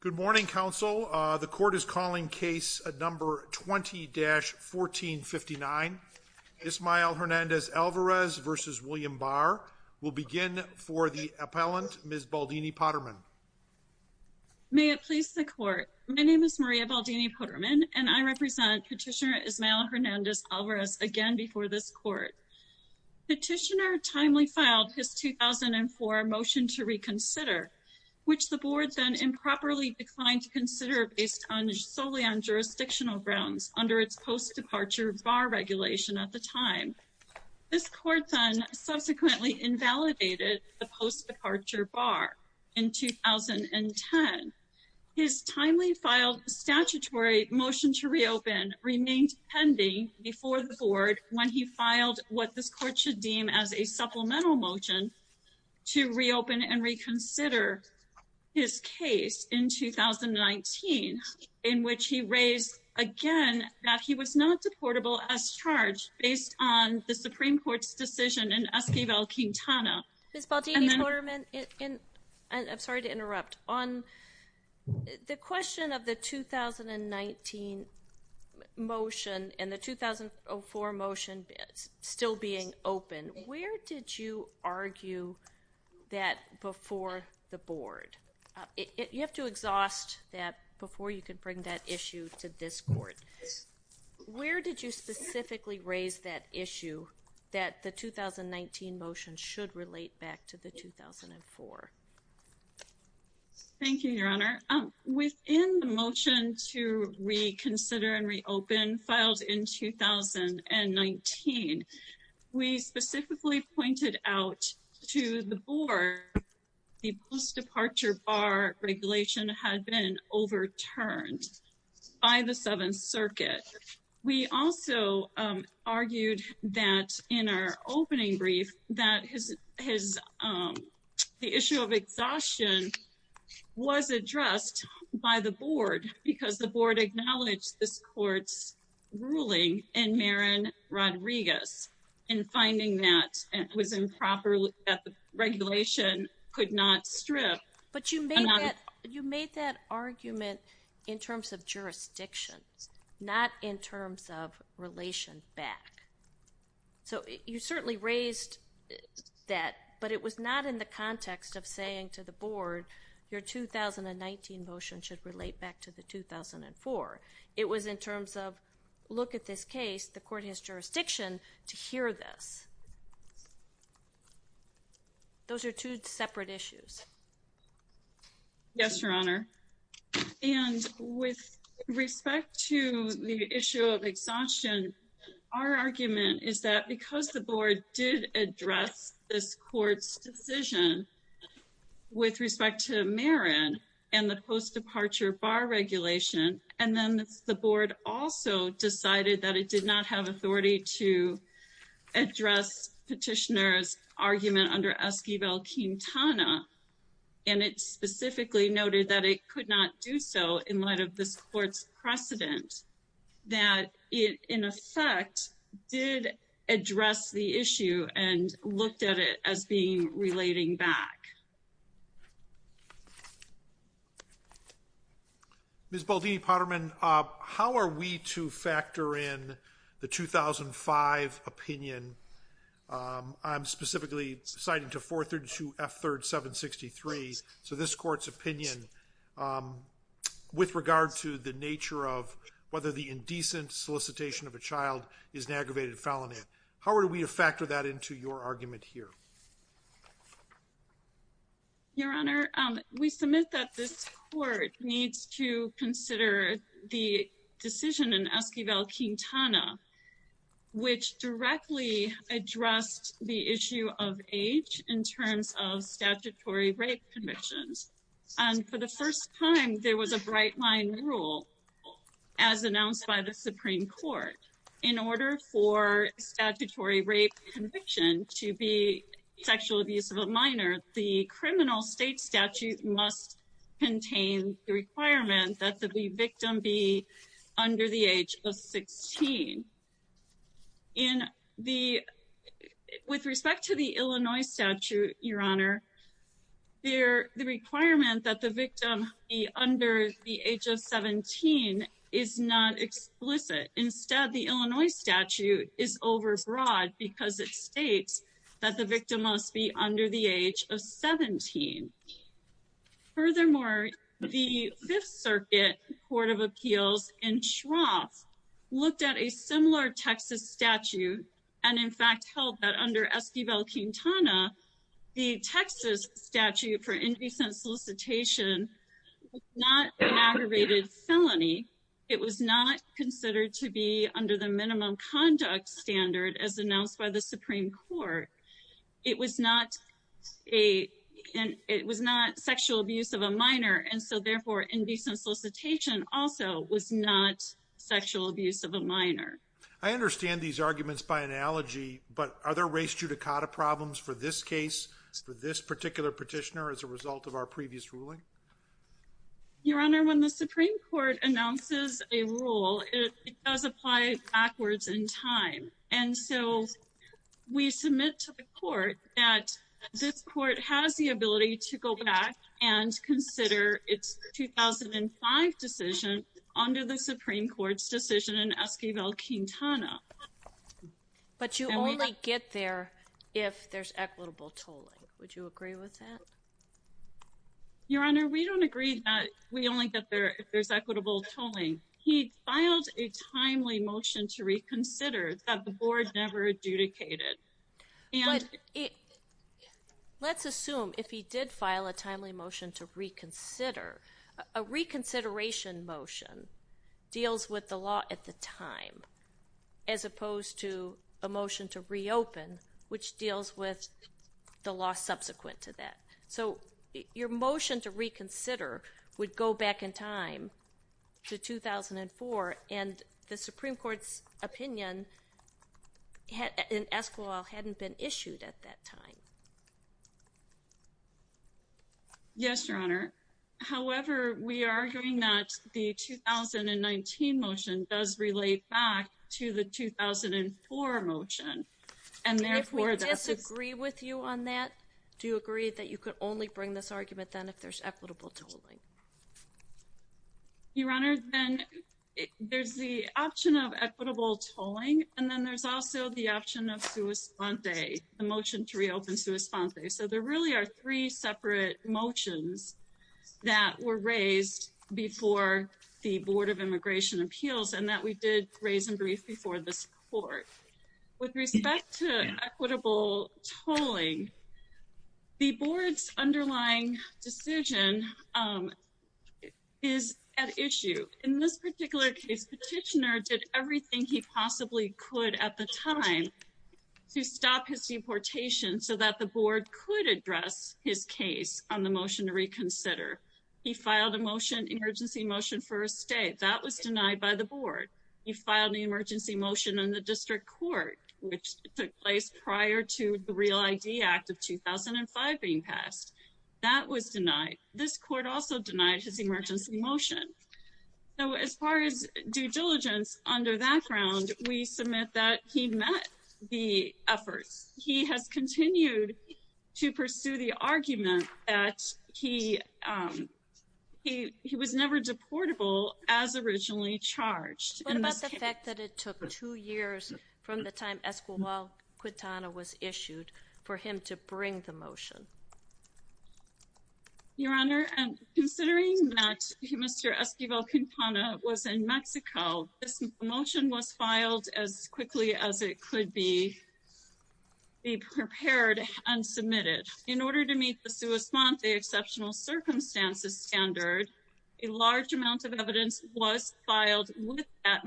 Good morning, counsel. The court is calling case number 20-1459, Ismael Hernandez-Alvarez v. William Barr. We'll begin for the appellant, Ms. Baldini-Potterman. May it please the court. My name is Maria Baldini-Potterman, and I represent Petitioner Ismael Hernandez-Alvarez again before this court. Petitioner timely filed his 2004 motion to improperly declined to consider based solely on jurisdictional grounds under its post-departure bar regulation at the time. This court then subsequently invalidated the post-departure bar in 2010. His timely filed statutory motion to reopen remained pending before the board when he filed what this court should deem as a supplemental motion to reopen and reconsider his case in 2019 in which he raised again that he was not deportable as charged based on the Supreme Court's decision in Esquivel-Quintana. Ms. Baldini-Potterman, I'm sorry to interrupt. The question of the 2019 motion and the 2004 motion still being open, where did you argue that before the board? You have to exhaust that before you can bring that issue to this court. Where did you specifically raise that issue that the 2019 motion should relate back to the 2004? Thank you, Your Honor. Within the motion to reconsider and reopen filed in 2019, we specifically pointed out to the board the post-departure bar regulation had been overturned by the Seventh Circuit. We also argued that in our opening brief that the issue of exhaustion was addressed by the board because the board acknowledged this court's ruling in Marin Rodriguez and finding that it was improper that the regulation could not strip. But you made that argument in terms of jurisdictions, not in terms of relation back. So you certainly raised that, but it was not in the context of saying to the board, your 2019 motion should relate back to the 2004. It was in terms of, look at this case, the court has jurisdiction to hear this. Those are two separate issues. Yes, Your Honor. And with respect to the issue of exhaustion, our argument is that because the board did address this court's decision with respect to Marin and the post-departure bar regulation, and then the board also decided that it did not have authority to address petitioner's argument under Esquivel-Quintana, and it specifically noted that it could not do so in light of this court's precedent, that it, in effect, did address the issue and looked at it as being relating back. Ms. Baldini-Potterman, how are we to factor in the 2005 opinion? I'm specifically citing to 432 F. 3rd 763. So this court's opinion with regard to the nature of whether the indecent solicitation of a child is an aggravated felony, how are we to factor that into your argument here? Your Honor, we submit that this court needs to consider the decision in Esquivel-Quintana, which directly addressed the issue of age in terms of statutory rape convictions. And for the first time, there was a bright line rule, as announced by the Supreme Court, in order for a statutory rape conviction to be sexual abuse of a minor, the criminal state statute must contain the requirement that the victim be under the age of 16. With respect to the Illinois statute, Your Honor, the requirement that the victim be under the age of 17 is not explicit. Instead, the Illinois statute is overbroad because it states that the victim must be under the age of 17. Furthermore, the Fifth Circuit Court of Appeals in Shroff looked at a similar Texas statute and, in fact, held that under Esquivel-Quintana, the Texas statute for indecent solicitation was not an aggravated felony. It was not considered to be under the minimum conduct standard, as announced by the Supreme Court. It was not sexual abuse of a minor, and so, therefore, indecent solicitation also was not sexual abuse of a minor. I understand these arguments by analogy, but are there race judicata problems for this case, for this particular petitioner, as a result of our previous ruling? Your Honor, when the Supreme Court announces a rule, it does apply backwards in time, and so we submit to the court that this court has the ability to go back and consider its 2005 decision under the Supreme Court's decision in Esquivel-Quintana. But you only get there if there's equitable tolling. Would you agree with that? Your Honor, we don't agree that we only get there if there's equitable tolling. He filed a timely motion to reconsider that the board never adjudicated. Let's assume if he did file a timely motion to reconsider, a reconsideration motion deals with the law at the time, as opposed to a motion to reopen, which deals with the law subsequent to that. So, your motion to reconsider would go back in time to 2004, and the Supreme Court's opinion in Esquivel hadn't been issued at that time. Yes, Your Honor. However, we are arguing that the 2019 motion does relate back to the 2004 motion, and therefore, that's... If we disagree with you on that, do you agree that you could only bring this argument then if there's equitable tolling? Your Honor, then there's the option of equitable tolling, and then there's also the option of motion to reopen. So, there really are three separate motions that were raised before the Board of Immigration Appeals, and that we did raise and brief before this Court. With respect to equitable tolling, the Board's underlying decision is at issue. In this particular case, the petitioner did everything he possibly could at the time to stop his deportation so that the Board could address his case on the motion to reconsider. He filed an emergency motion for estate. That was denied by the Board. He filed the emergency motion in the District Court, which took place prior to the REAL ID Act of 2005 being passed. That was denied. This Court also denied his emergency motion. So, as far as due diligence under that ground, we submit that he met the efforts. He has continued to pursue the argument that he was never deportable as originally charged. What about the fact that it took two years from the time Esquimalt-Quintana was issued for him to bring the motion? Your Honor, considering that Mr. Esquimalt-Quintana was in Mexico, this motion was filed as quickly as it could be prepared and submitted. In order to meet the sua sponte, the exceptional circumstances standard, a large amount of evidence was filed with that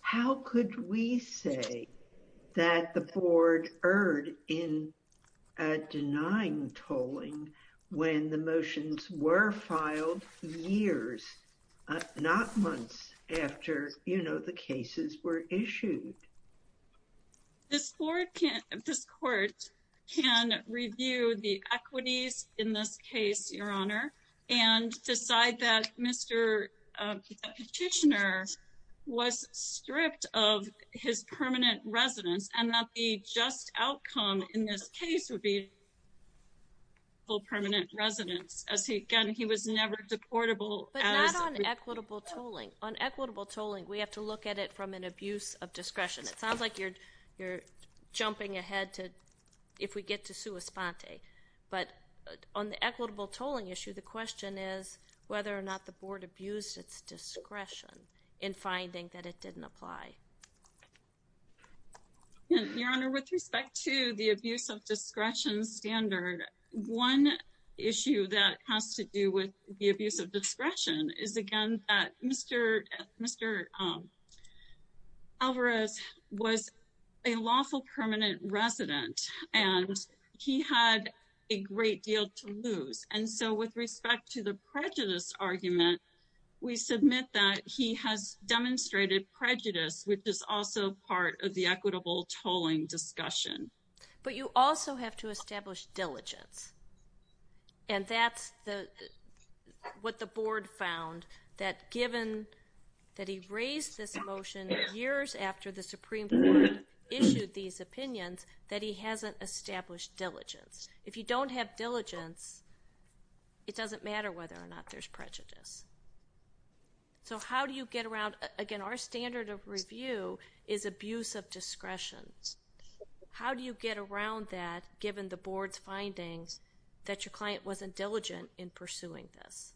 How could we say that the Board erred in denying tolling when the motions were filed years, not months, after the cases were issued? This Court can review the equities in this case, and decide that Mr. Petitioner was stripped of his permanent residence and that the just outcome in this case would be full permanent residence. Again, he was never deportable. But not on equitable tolling. On equitable tolling, we have to look at it from an abuse of discretion. It sounds like you're jumping ahead if we get to sua sponte. But on the equitable tolling issue, the question is whether or not the Board abused its discretion in finding that it didn't apply. Your Honor, with respect to the abuse of discretion standard, one issue that has to do with the abuse of discretion is again that Mr. Alvarez was a great deal to lose. And so with respect to the prejudice argument, we submit that he has demonstrated prejudice, which is also part of the equitable tolling discussion. But you also have to establish diligence. And that's what the Board found, that given that he raised this motion years after the Supreme Court issued these opinions, that he hasn't established diligence. If you don't have diligence, it doesn't matter whether or not there's prejudice. So how do you get around, again, our standard of review is abuse of discretion. How do you get around that given the Board's findings that your client wasn't diligent in pursuing this?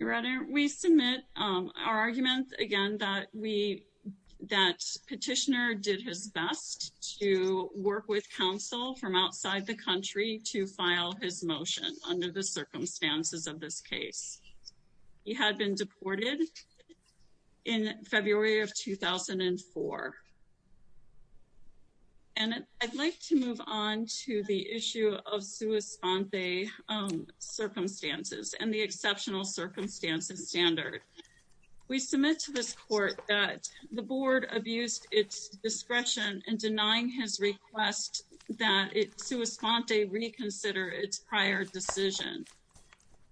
Your Honor, we submit our argument, again, that petitioner did his best to work with counsel from outside the country to file his motion under the circumstances of this case. He had been deported in February of 2004. And I'd like to move on to the issue of sua sponte circumstances and the exceptional circumstances standard. We submit to this Court that the Board abused its discretion in denying his request that sua sponte reconsider its prior decision.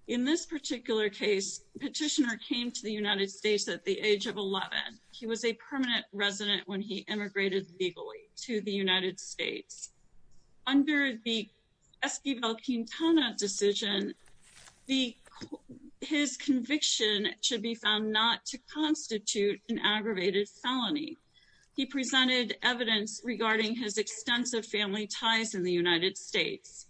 In this particular case, petitioner came to the United States at the age of 11. He was a permanent resident when he immigrated legally to the United States. Under the Esquivel-Quintana decision, his conviction should be found not to constitute an aggravated felony. He presented evidence regarding his extensive family ties in the United States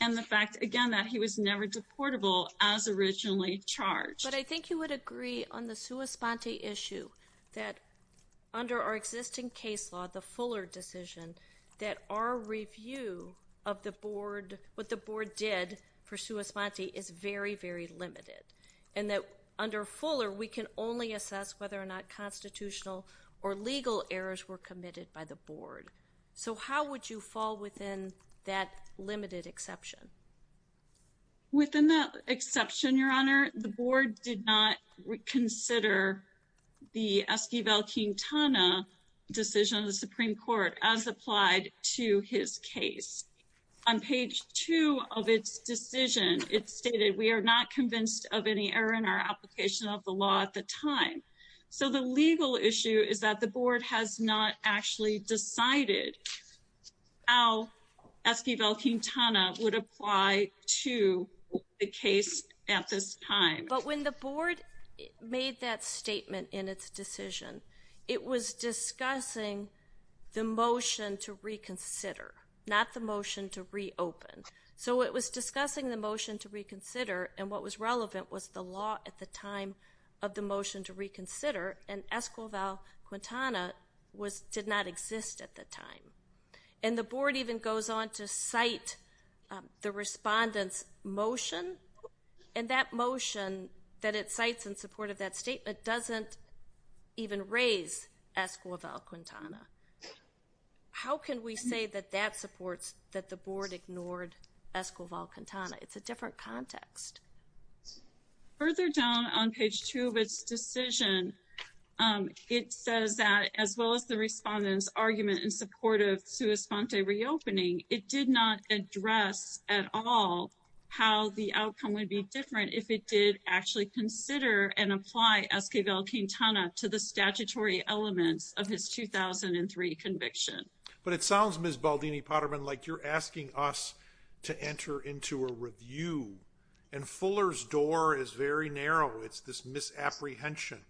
and the fact, again, that he was never deportable as originally charged. But I think you would agree on the sua sponte issue that under our existing case law, the Fuller decision, that our review of the Board, what the Board did for sua sponte is very, very limited. And that under Fuller, we can only assess whether or not constitutional or legal errors were committed by the Board. So how would you fall within that limited exception? Within that exception, Your Honor, the Board did not consider the Esquivel-Quintana decision of the Supreme Court as applied to his case. On page two of its decision, it stated, we are not convinced of any error in our application of the law at the time. So the legal issue is that the Board has not actually decided how Esquivel-Quintana would apply to the case at this time. But when the Board made that statement in its decision, it was discussing the motion to reconsider, not the motion to reopen. So it was discussing the motion to reconsider, and what was relevant was the law at the time of the motion to reconsider, and Esquivel-Quintana did not exist at the time. And the Board even goes on to cite the respondent's motion, and that motion that it cites in support of that statement doesn't even raise Esquivel-Quintana. How can we say that that supports that the Board ignored Esquivel-Quintana? It's a different context. Further down on page two of its decision, it says that, as well as the respondent's argument in support of sua sponte reopening, it did not address at all how the outcome would be different if it did actually consider and apply Esquivel-Quintana to the statutory elements of his 2003 conviction. But it sounds, Ms. Baldini-Potterman, like you're asking us to enter into a review, and Fuller's door is very narrow. It's this misapprehension.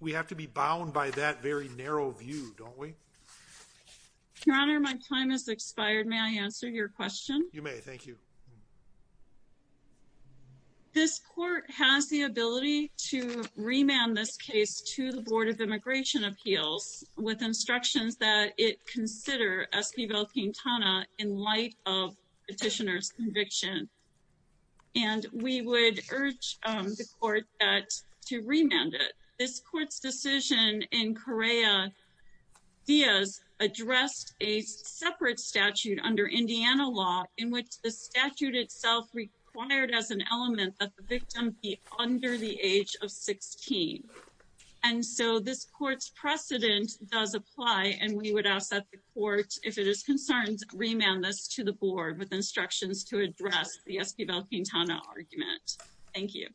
We have to be bound by that very narrow view, don't we? Your Honor, my time has expired. May I answer your question? You may. Thank you. This Court has the ability to remand this case to the Board of Immigration Appeals with instructions that it consider Esquivel-Quintana in light of petitioner's conviction. And we would urge the Court to remand it. This Court's decision in Correa-Diaz addressed a under Indiana law in which the statute itself required as an element that the victim be under the age of 16. And so this Court's precedent does apply, and we would ask that the Court, if it is concerned, remand this to the Board with instructions to address the Esquivel-Quintana argument. Thank you.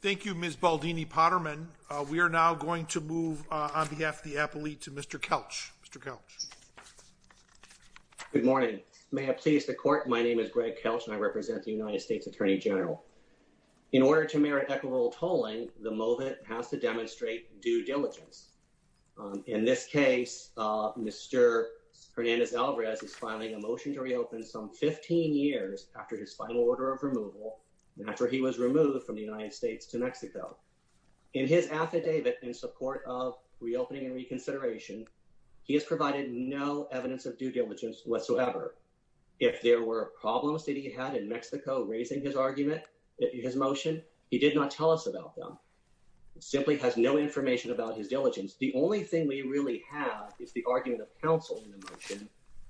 Thank you, Ms. Baldini-Potterman. We are now going to move on behalf of the appellee to Mr. Kelch. Mr. Kelch. Good morning. May it please the Court, my name is Greg Kelch, and I represent the United States Attorney General. In order to merit equitable tolling, the moment has to demonstrate due diligence. In this case, Mr. Hernandez-Alvarez is filing a motion to reopen some 15 years after his affidavit in support of reopening and reconsideration. He has provided no evidence of due diligence whatsoever. If there were problems that he had in Mexico raising his argument, his motion, he did not tell us about them. He simply has no information about his diligence. The only thing we really have is the argument of counsel in the motion,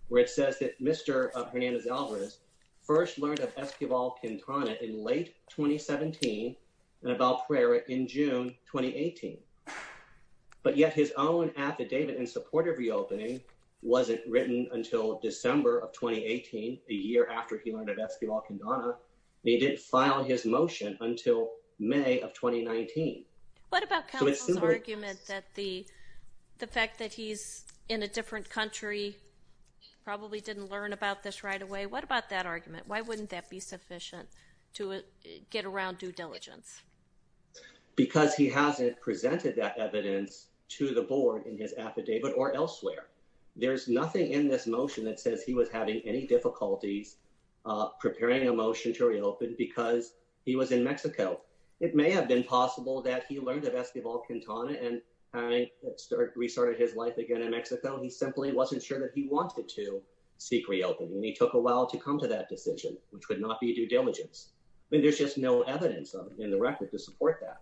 where it says that Mr. Hernandez-Alvarez first learned of Esquivel-Quintana in late 2017 and about Pereira in June 2018. But yet his own affidavit in support of reopening wasn't written until December of 2018, a year after he learned of Esquivel-Quintana, and he didn't file his motion until May of 2019. What about counsel's argument that the fact that he's in a different country, probably didn't learn about this right away? What about that argument? Why wouldn't that be sufficient to get around due diligence? Because he hasn't presented that evidence to the board in his affidavit or elsewhere. There's nothing in this motion that says he was having any difficulties preparing a motion to reopen because he was in Mexico. It may have been possible that he learned of Esquivel-Quintana and restarted his life again in Mexico. He simply wasn't sure that he wanted to seek reopening, and he took a while to come to that decision, which would not be due diligence. I mean, there's just no evidence in the record to support that.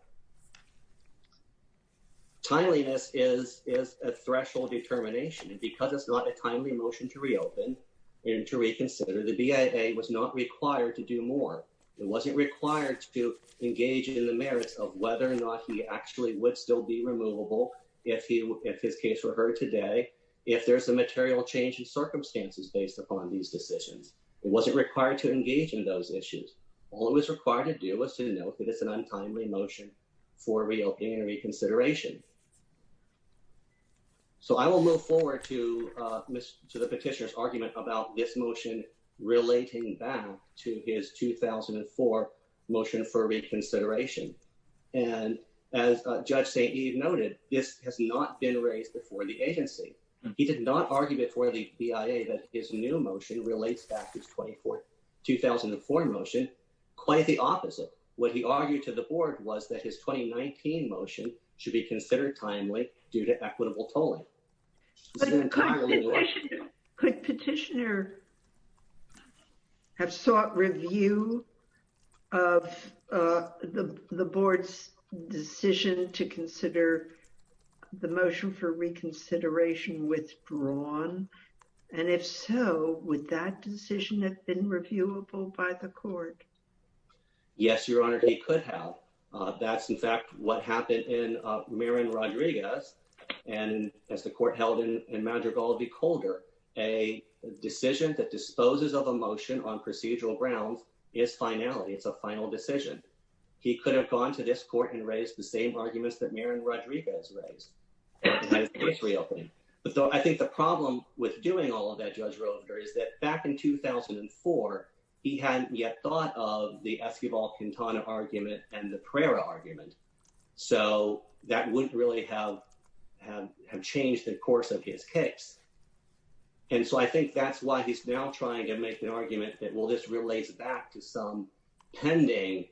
Timeliness is a threshold determination, and because it's not a timely motion to reopen and to reconsider, the BIA was not required to do more. It wasn't required to engage in the merits of whether or not he actually would still be removable if his case were heard today, if there's a material change in circumstances based upon these decisions. It wasn't required to engage in those issues. All it was required to do was to note that it's an untimely motion for reopening and reconsideration. So I will move forward to the petitioner's argument about this motion relating back to his 2004 motion for reconsideration. And as Judge St. Eve noted, this has not been raised before the agency. He did not argue before the BIA that his new motion relates back to his 2004 motion. Quite the opposite. What he argued to the board was that his 2019 motion should be considered timely due to equitable tolling. But could petitioner have sought review of the board's decision to consider the motion for reconsideration withdrawn? And if so, would that decision have been reviewable by the court? Yes, Your Honor, he could have. That's, in fact, what happened in Marin Rodriguez and as the court held in Madrigal v. Calder, a decision that disposes of a motion on procedural grounds is finality. It's a final decision. He could have gone to this court and raised the same arguments that Marin Rodriguez raised. But I think the problem with doing all of that, Judge Roeder, is that back in 2004, he hadn't yet thought of the Esquivel-Quintana argument and the Pereira argument. So that wouldn't really have changed the course of his case. And so I think that's why he's now trying to make an argument that, well, this relates back to some pending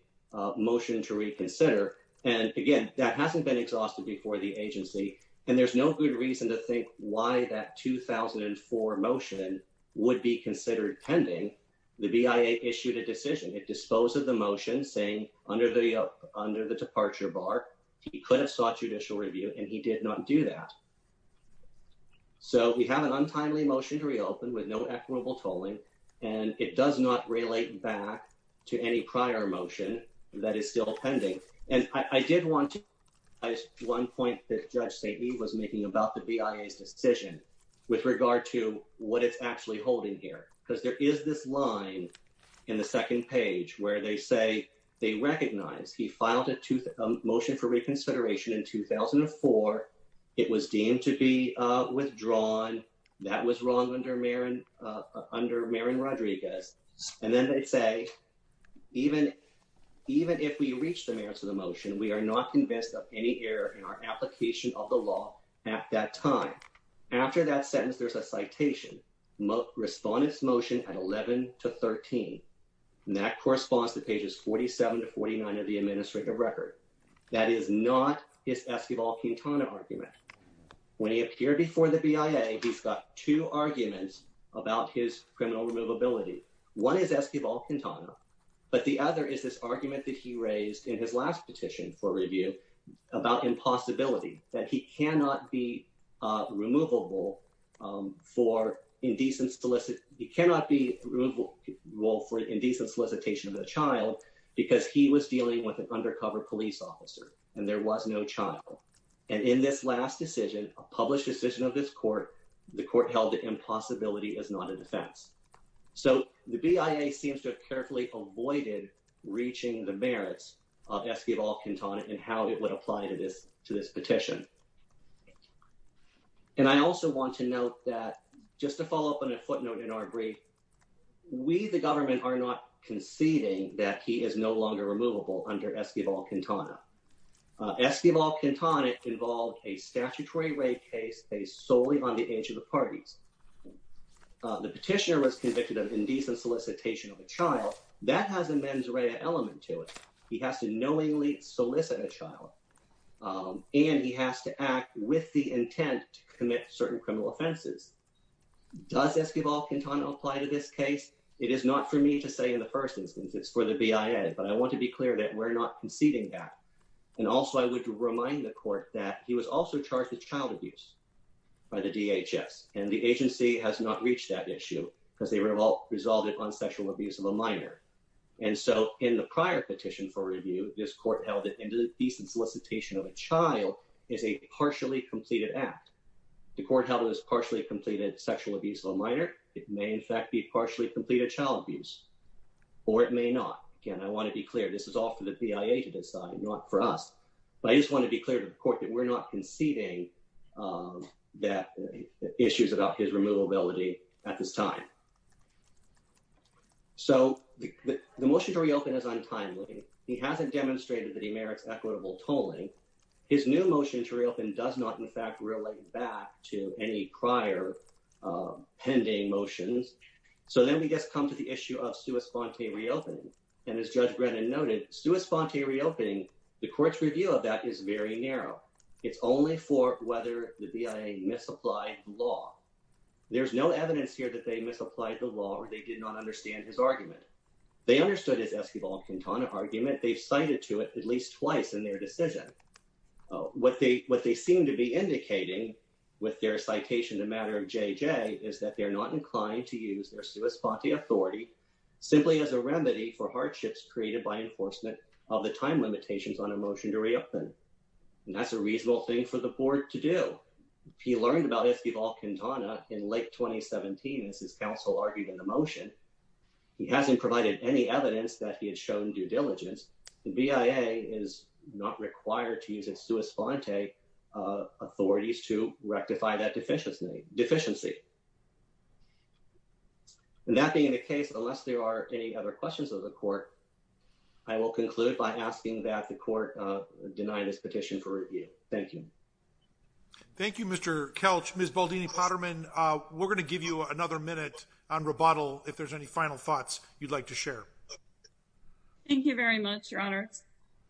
motion to reconsider. And again, that hasn't been exhausted before the agency. And there's no good reason to think why that 2004 motion would be considered pending. The BIA issued a decision. It disposed of the motion saying under the departure bar, he could have sought judicial review, and he did not do that. So we have an untimely motion to reopen with no equitable tolling, and it does not relate back to any prior motion that is still pending. And I did want to add one point that Judge St. Eve was making about the BIA's decision with regard to what it's actually holding here. Because there is this line in the second page where they say they recognize he filed a motion for reconsideration in 2004. It was deemed to be withdrawn. That was wrong under Marin Rodriguez. And then they say, even if we reach the merits of the motion, we are not convinced of any error in our application of law at that time. After that sentence, there's a citation. Respondents' motion at 11 to 13. And that corresponds to pages 47 to 49 of the administrative record. That is not his Esquivel Quintana argument. When he appeared before the BIA, he's got two arguments about his criminal removability. One is Esquivel Quintana, but the other is this argument that he raised in his last petition for review about impossibility, that he cannot be removable for indecent solicitation of a child because he was dealing with an undercover police officer and there was no child. And in this last decision, a published decision of this court, the court held that impossibility is not a defense. So the BIA seems to have carefully avoided reaching the merits of Esquivel Quintana and how it would apply to this petition. And I also want to note that, just to follow up on a footnote in our brief, we the government are not conceding that he is no longer removable under Esquivel Quintana. Esquivel Quintana involved a statutory rape case based solely on the age of the parties. The petitioner was convicted of indecent solicitation of a child. That has a mens rea element to it. He has to knowingly solicit a child and he has to act with the intent to commit certain criminal offenses. Does Esquivel Quintana apply to this case? It is not for me to say in the first instance, it's for the BIA, but I want to be clear that we're not conceding that. And also I would remind the court that he was also charged with child abuse by the DHS and the agency has not reached that issue because they resolved it on sexual abuse of a minor. And so in the prior petition for review, this court held that indecent solicitation of a child is a partially completed act. The court held it as partially completed sexual abuse of a minor. It may in fact be partially completed child abuse, or it may not. Again, I want to be clear, this is all for the court that we're not conceding that issues about his removability at this time. So the motion to reopen is untimely. He hasn't demonstrated that he merits equitable tolling. His new motion to reopen does not in fact relate back to any prior pending motions. So then we just come to the issue of sua sponte reopening. And as Judge Brennan noted, sua sponte reopening, the court's review of that is very narrow. It's only for whether the BIA misapplied the law. There's no evidence here that they misapplied the law or they did not understand his argument. They understood his Esquivel-Quintana argument. They've cited to it at least twice in their decision. What they seem to be indicating with their citation, the matter of JJ, is that they're not inclined to use their sua sponte authority simply as a of the time limitations on a motion to reopen. And that's a reasonable thing for the board to do. He learned about Esquivel-Quintana in late 2017 as his counsel argued in the motion. He hasn't provided any evidence that he had shown due diligence. The BIA is not required to use its sua sponte authorities to rectify that deficiency. And that being the case, unless there are any other questions of the court, I will conclude by asking that the court deny this petition for review. Thank you. Thank you, Mr. Kelch. Ms. Baldini-Potterman, we're going to give you another minute on rebuttal if there's any final thoughts you'd like to share. Thank you very much, Your Honor.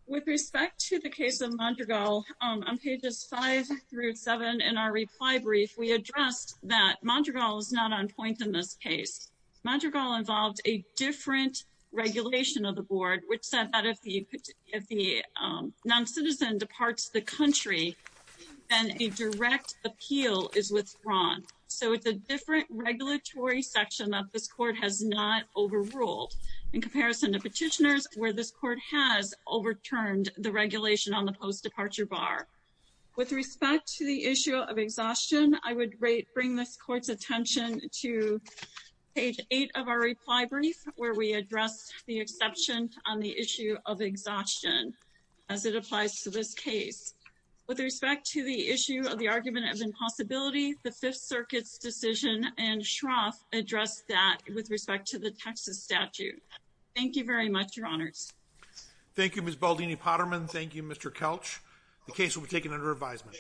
With respect to the case of Mondragal, on pages five through seven in our reply brief, we addressed that Mondragal is not on point in this case. Mondragal involved a different regulation of the board which said that if the non-citizen departs the country, then a direct appeal is withdrawn. So it's a different regulatory section that this court has not overruled in comparison to petitioners where this court has overturned the regulation on the post-departure bar. With respect to the issue of exhaustion, I would bring this court's attention to page eight of our reply brief where we addressed the exception on the issue of exhaustion as it applies to this case. With respect to the issue of the argument of impossibility, the Fifth Circuit's decision in Shroff addressed that with respect to the Texas statute. Thank you very much, Your Honors. Thank you, Ms. Baldini-Potterman. Thank you, Mr. Kelch. The case will be taken under advisement.